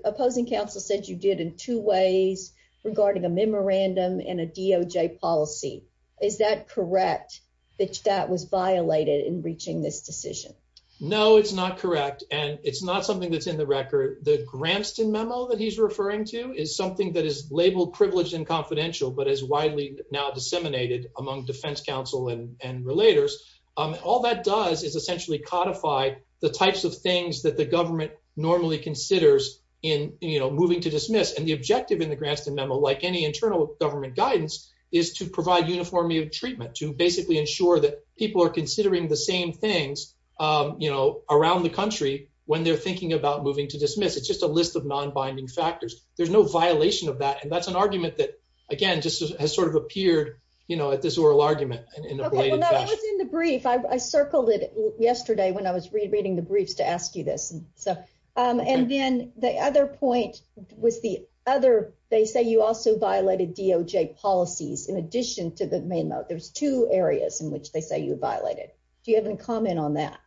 Opposing counsel said you did in two ways regarding a memorandum and a DOJ policy. Is that correct that that was violated in reaching this decision? No, it's not correct. And it's not something that's in the record. The Gramston memo that he's referring to is something that is labeled privileged and confidential, but is widely now disseminated among defense counsel and relators. All that does is essentially codify the types of things that the government normally considers in, you know, moving to dismiss. And the objective in the Gramston memo, like any internal government guidance, is to provide uniform treatment, to basically ensure that people are considering the same things, you know, around the country when they're thinking about moving to dismiss. It's just a list of non-binding factors. There's no violation of that. That's an argument that, again, just has sort of appeared, you know, at this oral argument. Okay, well, that was in the brief. I circled it yesterday when I was reading the briefs to ask you this. And then the other point was the other, they say you also violated DOJ policies. In addition to the memo, there's two areas in which they say you violated. Do you have any comment on that?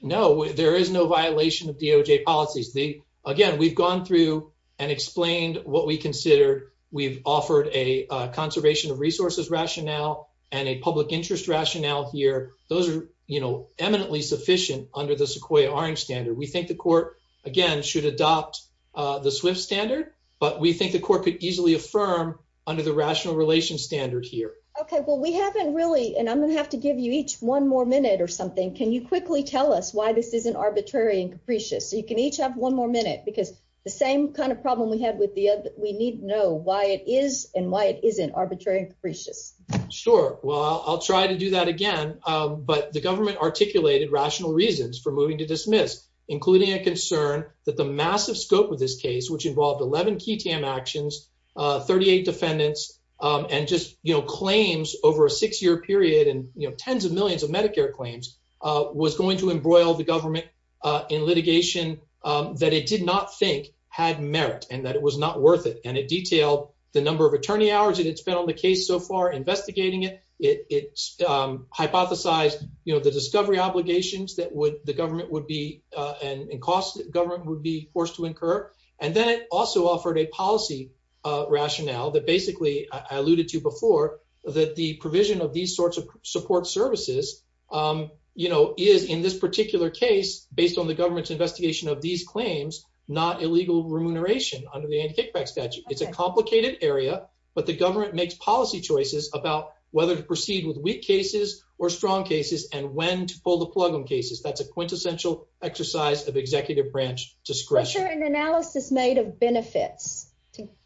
No, there is no violation of DOJ policies. Again, we've gone through and explained what we consider, we've offered a conservation of resources rationale and a public interest rationale here. Those are, you know, eminently sufficient under the Sequoia Orange standard. We think the court, again, should adopt the SWIFT standard, but we think the court could easily affirm under the rational relations standard here. Okay, well, we haven't really, and I'm going to have to give you each one more minute or something. Can you quickly tell us why this isn't arbitrary and capricious? So you can each have one more minute, because the same kind of problem we had with the other, we need to know why it is and why it isn't arbitrary and capricious. Sure, well, I'll try to do that again. But the government articulated rational reasons for moving to dismiss, including a concern that the massive scope of this case, which involved 11 key TAM actions, 38 defendants, and just, you know, claims over a six-year period and, you know, tens of millions of Medicare claims, was going to embroil the government in litigation that it did not think had merit and that it was not worth it. And it detailed the number of attorney hours that it spent on the case so far investigating it. It hypothesized, you know, the discovery obligations that the government would be, and costs that government would be forced to incur. And then it also offered a policy rationale that basically I alluded to before, that the provision of these sorts of support services is in this particular case, based on the government's investigation of these claims, not illegal remuneration under the anti-kickback statute. It's a complicated area, but the government makes policy choices about whether to proceed with weak cases or strong cases and when to pull the plug on cases. That's a quintessential exercise of executive branch discretion. Was there an analysis made of benefits?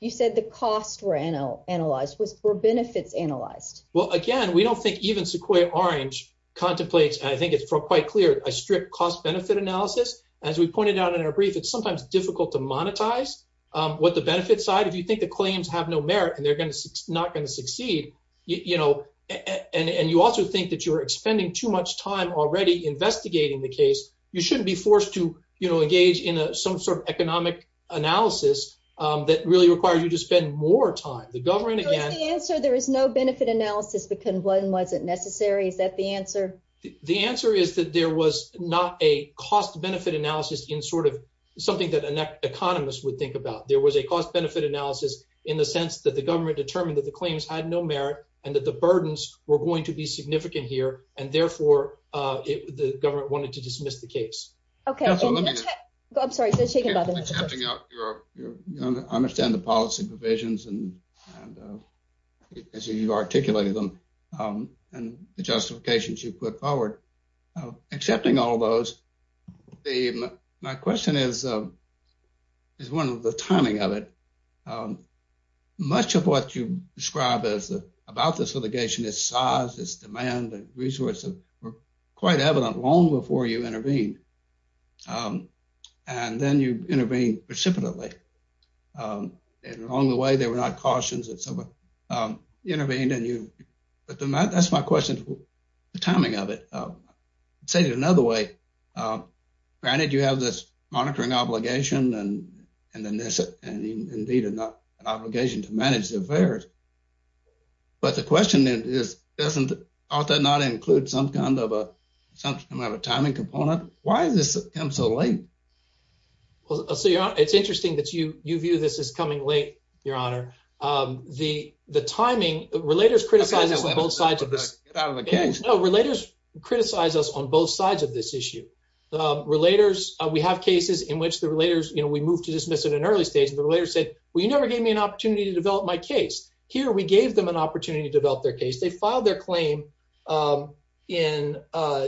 You said the costs were analyzed. Were benefits analyzed? Well, again, we don't think even Sequoia Orange contemplates, and I think it's quite clear, a strict cost-benefit analysis. As we pointed out in our brief, it's sometimes difficult to monetize what the benefits are. If you think the claims have no merit and they're not going to succeed, and you also think that you're expending too much time already investigating the case, you shouldn't be forced to engage in some sort of economic analysis that really requires you to spend more time. The government, again- So is the answer there is no benefit analysis because one wasn't necessary? Is that the answer? The answer is that there was not a cost-benefit analysis in sort of something that an economist would think about. There was a cost-benefit analysis in the sense that the government determined that the claims had no merit and that the burdens were going to be significant here. And therefore, the government wanted to dismiss the case. Okay. I'm sorry. I understand the policy provisions and as you articulated them and the justifications you put forward. Accepting all those, my question is one of the timing of it. Much of what you describe about this litigation is size, is demand, and resources were quite evident long before you intervene. And then you intervene precipitately. And along the way, there were not cautions that someone intervened but that's my question. The timing of it. I'll say it another way. Granted, you have this monitoring obligation and then this and indeed an obligation to manage the affairs. But the question is, doesn't that not include some kind of a timing component? Why has this come so late? Well, it's interesting that you view this as coming late, Your Honor. The timing, relators criticize us on both sides of this. Relators criticize us on both sides of this issue. Relators, we have cases in which the relators, we moved to dismiss it in an early stage and the relators said, well, you never gave me an opportunity to develop my case. Here, we gave them an opportunity to develop their case. They filed their claim in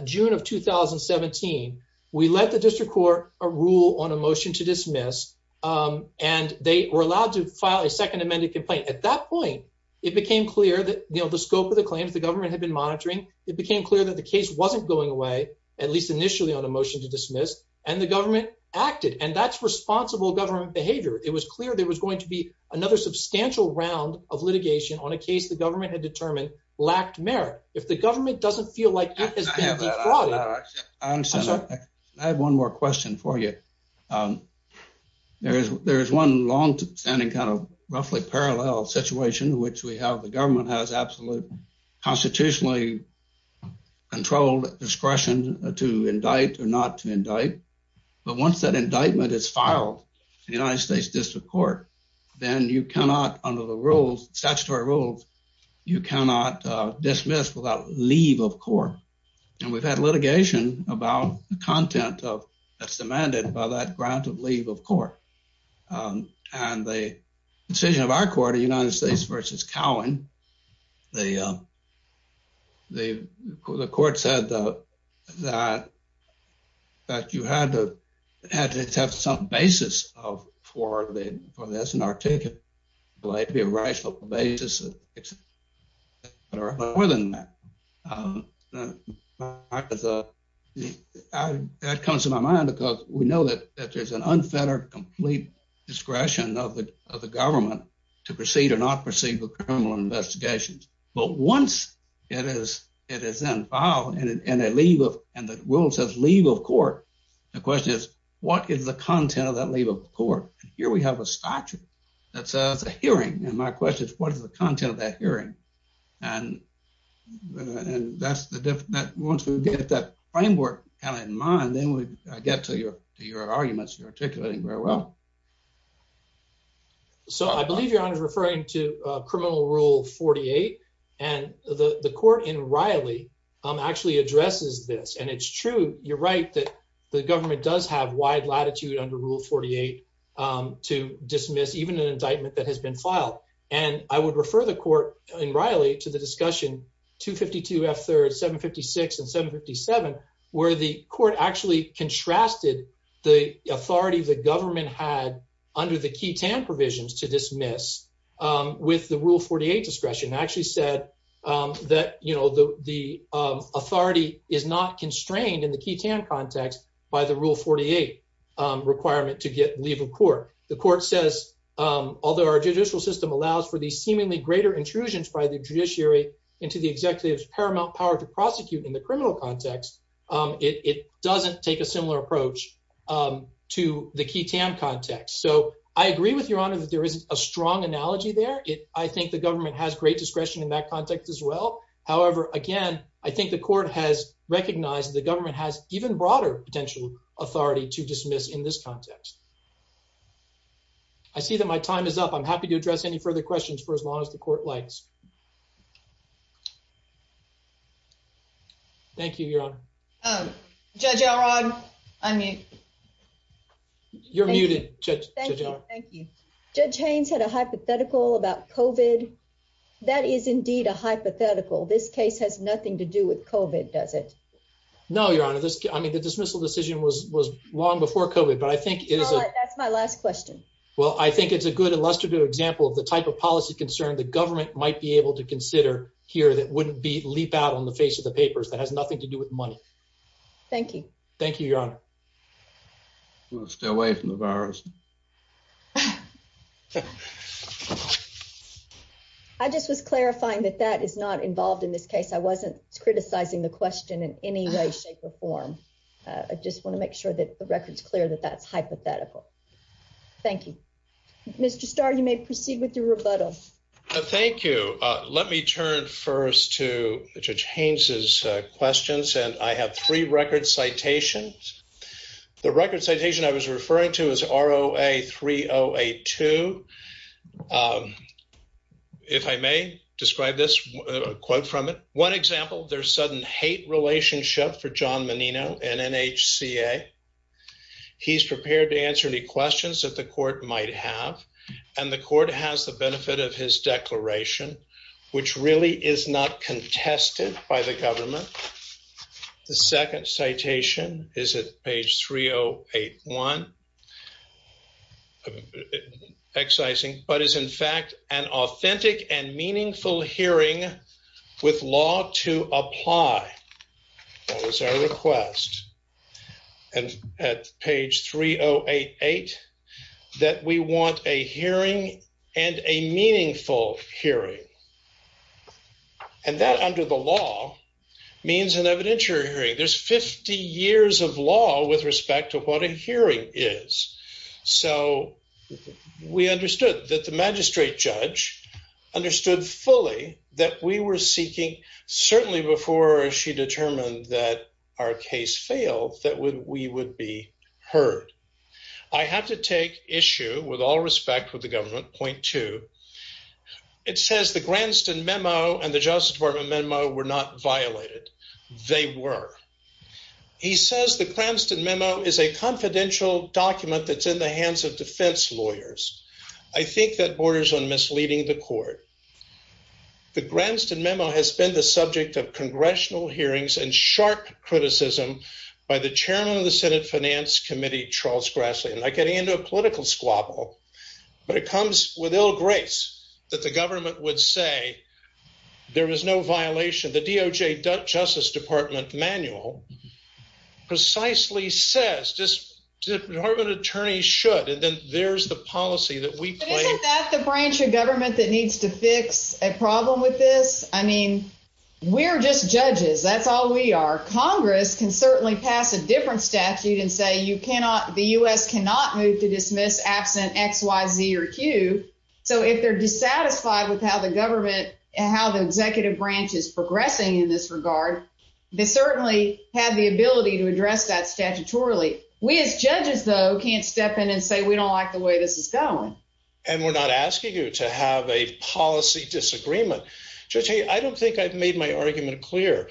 June of 2017. We let the district court rule on a motion to dismiss and they were allowed to file a second amended complaint. At that point, it became clear that the scope of the claims, the government had been monitoring. It became clear that the case wasn't going away, at least initially on a motion to dismiss and the government acted and that's responsible government behavior. It was clear there was going to be another substantial round of litigation on a case the government had determined lacked merit. If the government doesn't feel like it has been defrauded. I understand that. I have one more question for you. There is one long standing kind of roughly parallel situation which we have the government has absolute constitutionally controlled discretion to indict or not to indict but once that indictment is filed in the United States District Court, then you cannot under the rules, statutory rules, you cannot dismiss without leave of court and we've had litigation about the content of that's demanded by that grant of leave of court. And the decision of our court, the United States versus Cowen, the court said that you had to have some basis for the SNR ticket to be a rational basis. That comes to my mind because we know that there's an unfettered complete discretion of the government to proceed or not proceed with criminal investigations. But once it is then filed and the rule says leave of court, the question is what is the content of that leave of court? Here we have a statute that says a hearing and my question is what is the content of that hearing? And once we get that framework in mind, I get to your arguments you're articulating very well. So I believe your honor is referring to criminal rule 48 and the court in Riley actually addresses this and it's true, you're right, that the government does have wide latitude under rule 48 to dismiss even an indictment that has been filed. And I would refer the court in Riley to the discussion 252 F third, 756 and 757 where the court actually contrasted the authority the government had under the key TAN provisions to dismiss with the rule 48 discretion. It actually said that the authority is not constrained in the key TAN context by the rule 48 requirement to get leave of court. The court says, although our judicial system allows for the seemingly greater intrusions by the judiciary into the executive's paramount power to prosecute in the criminal context, it doesn't take a similar approach to the key TAN context. So I agree with your honor that there is a strong analogy there. I think the government has great discretion in that context as well. However, again, I think the court has recognized the government has even broader potential authority to dismiss in this context. I see that my time is up. I'm happy to address any further questions for as long as the court likes. Thank you, your honor. Judge Elrod, I'm mute. You're muted, Judge Elrod. Thank you. Judge Haynes had a hypothetical about COVID. That is indeed a hypothetical. This case has nothing to do with COVID, does it? No, your honor. I mean, the dismissal decision was long before COVID, but I think it is- That's my last question. Well, I think it's a good illustrative example of the type of policy concern the government might be able to consider here that wouldn't leap out on the face of the papers, that has nothing to do with money. Thank you. Thank you, your honor. I'm going to stay away from the virus. I just was clarifying that that is not involved in this case. I wasn't criticizing the question in any way, shape, or form. I just want to make sure that the record's clear that that's hypothetical. Thank you. Mr. Starr, you may proceed with your rebuttal. Thank you. Let me turn first to Judge Haynes' questions, and I have three record citations. The record citation I was referring to is ROA 3082. If I may describe this, a quote from it. One example, there's sudden hate relationship for John Menino and NHCA. He's prepared to answer any questions that the court might have, and the court has the benefit of his declaration. Which really is not contested by the government. The second citation is at page 3081. Excising, but is in fact an authentic and meaningful hearing with law to apply. That was our request. And at page 3088, that we want a hearing and a meaningful hearing. And that under the law means an evidentiary hearing. There's 50 years of law with respect to what a hearing is. So we understood that the magistrate judge understood fully that we were seeking, certainly before she determined that our case failed, that we would be heard. I have to take issue with all respect with the government, point two. It says the Granston memo and the justice department memo were not violated, they were. He says the Cranston memo is a confidential document that's in the hands of defense lawyers. I think that borders on misleading the court. The Granston memo has been the subject of congressional hearings and sharp criticism by the chairman of the Senate Finance Committee, Charles Grassley. I'm not getting into a political squabble, but it comes with ill grace that the government would say there was no violation. The DOJ Justice Department manual precisely says just department attorneys should. And then there's the policy that we play. Isn't that the branch of government that needs to fix a problem with this? I mean, we're just judges. That's all we are. Congress can certainly pass a different statute and say you cannot, the US cannot move to dismiss absent X, Y, Z, or Q. So if they're dissatisfied with how the government and how the executive branch is progressing in this regard, they certainly have the ability to address that statutorily. We as judges, though, can't step in and say, we don't like the way this is going. And we're not asking you to have a policy disagreement. Judge, I don't think I've made my argument clear.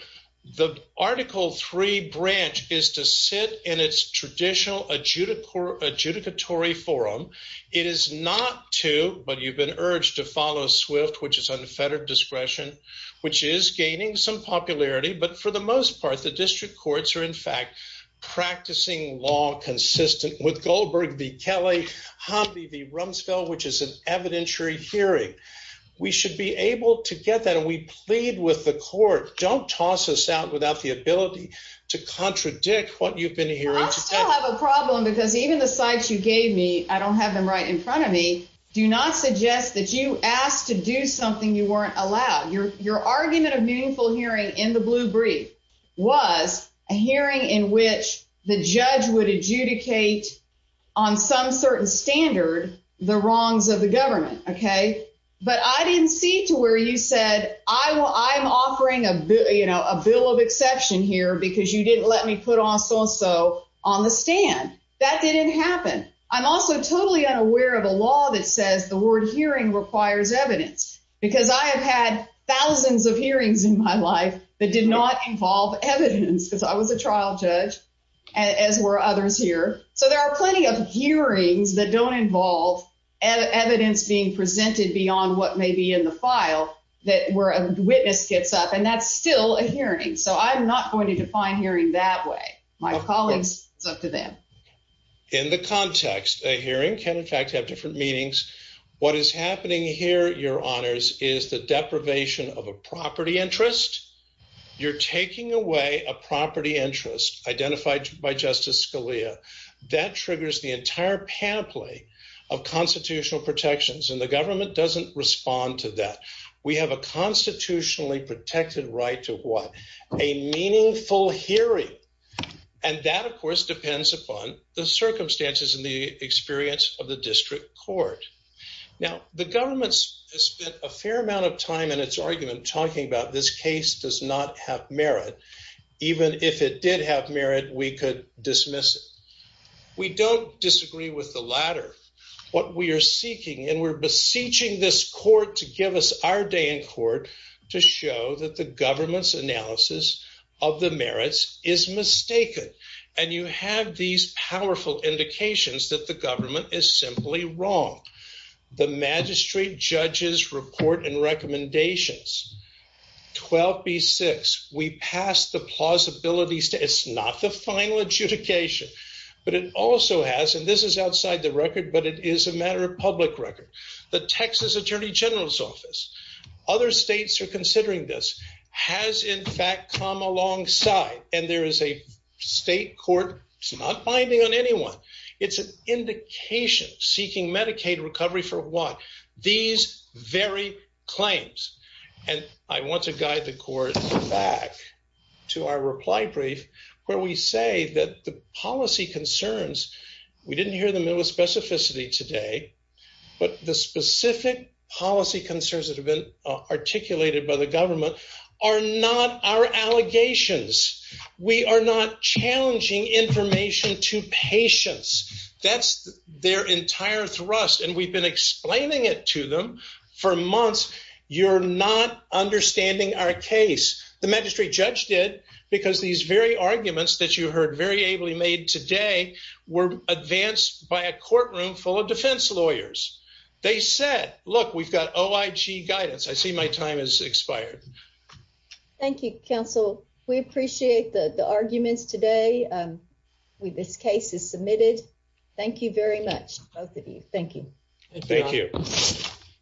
The article three branch is to sit in its traditional adjudicatory forum. It is not to, but you've been urged to follow SWIFT, which is unfettered discretion, which is gaining some popularity. But for the most part, the district courts are in fact practicing law consistent with Goldberg v. Kelly, Hamdi v. Rumsfeld, which is an evidentiary hearing. We should be able to get that. And we plead with the court, don't toss us out without the ability to contradict what you've been hearing. I still have a problem because even the sites you gave me, I don't have them right in front of me, do not suggest that you asked to do something you weren't allowed. Your argument of meaningful hearing in the blue brief was a hearing in which the judge would adjudicate on some certain standard the wrongs of the government, okay? But I didn't see to where you said, I'm offering a bill of exception here because you didn't let me put on so-and-so on the stand. That didn't happen. I'm also totally unaware of a law that says the word hearing requires evidence because I have had thousands of hearings in my life that did not involve evidence because I was a trial judge, as were others here. So there are plenty of hearings that don't involve evidence being presented beyond what may be in the file that where a witness gets up and that's still a hearing. So I'm not going to define hearing that way. My colleagues, it's up to them. In the context, a hearing can in fact have different meanings. What is happening here, your honors, is the deprivation of a property interest. You're taking away a property interest identified by Justice Scalia. That triggers the entire panoply of constitutional protections and the government doesn't respond to that. We have a constitutionally protected right to what? A meaningful hearing. And that, of course, depends upon the circumstances and the experience of the district court. Now, the government has spent a fair amount of time in its argument talking about this case does not have merit. Even if it did have merit, we could dismiss it. We don't disagree with the latter. What we are seeking and we're beseeching this court to give us our day in court to show that the government's analysis of the merits is mistaken. And you have these powerful indications that the government is simply wrong. The magistrate judges report and recommendations. 12B6, we pass the plausibility. It's not the final adjudication, but it also has, and this is outside the record, but it is a matter of public record. The Texas Attorney General's office, other states are considering this, has in fact come alongside. And there is a state court, it's not binding on anyone. It's an indication seeking Medicaid recovery for what? These very claims. And I want to guide the court back to our reply brief, where we say that the policy concerns, we didn't hear the middle specificity today, but the specific policy concerns that have been articulated by the government are not our allegations. We are not challenging information to patients. That's their entire thrust. And we've been explaining it to them for months. You're not understanding our case. The magistrate judge did, because these very arguments that you heard very ably made today were advanced by a courtroom full of defense lawyers. They said, look, we've got OIG guidance. I see my time has expired. Thank you, counsel. We appreciate the arguments today. This case is submitted. Thank you very much, both of you. Thank you. Thank you.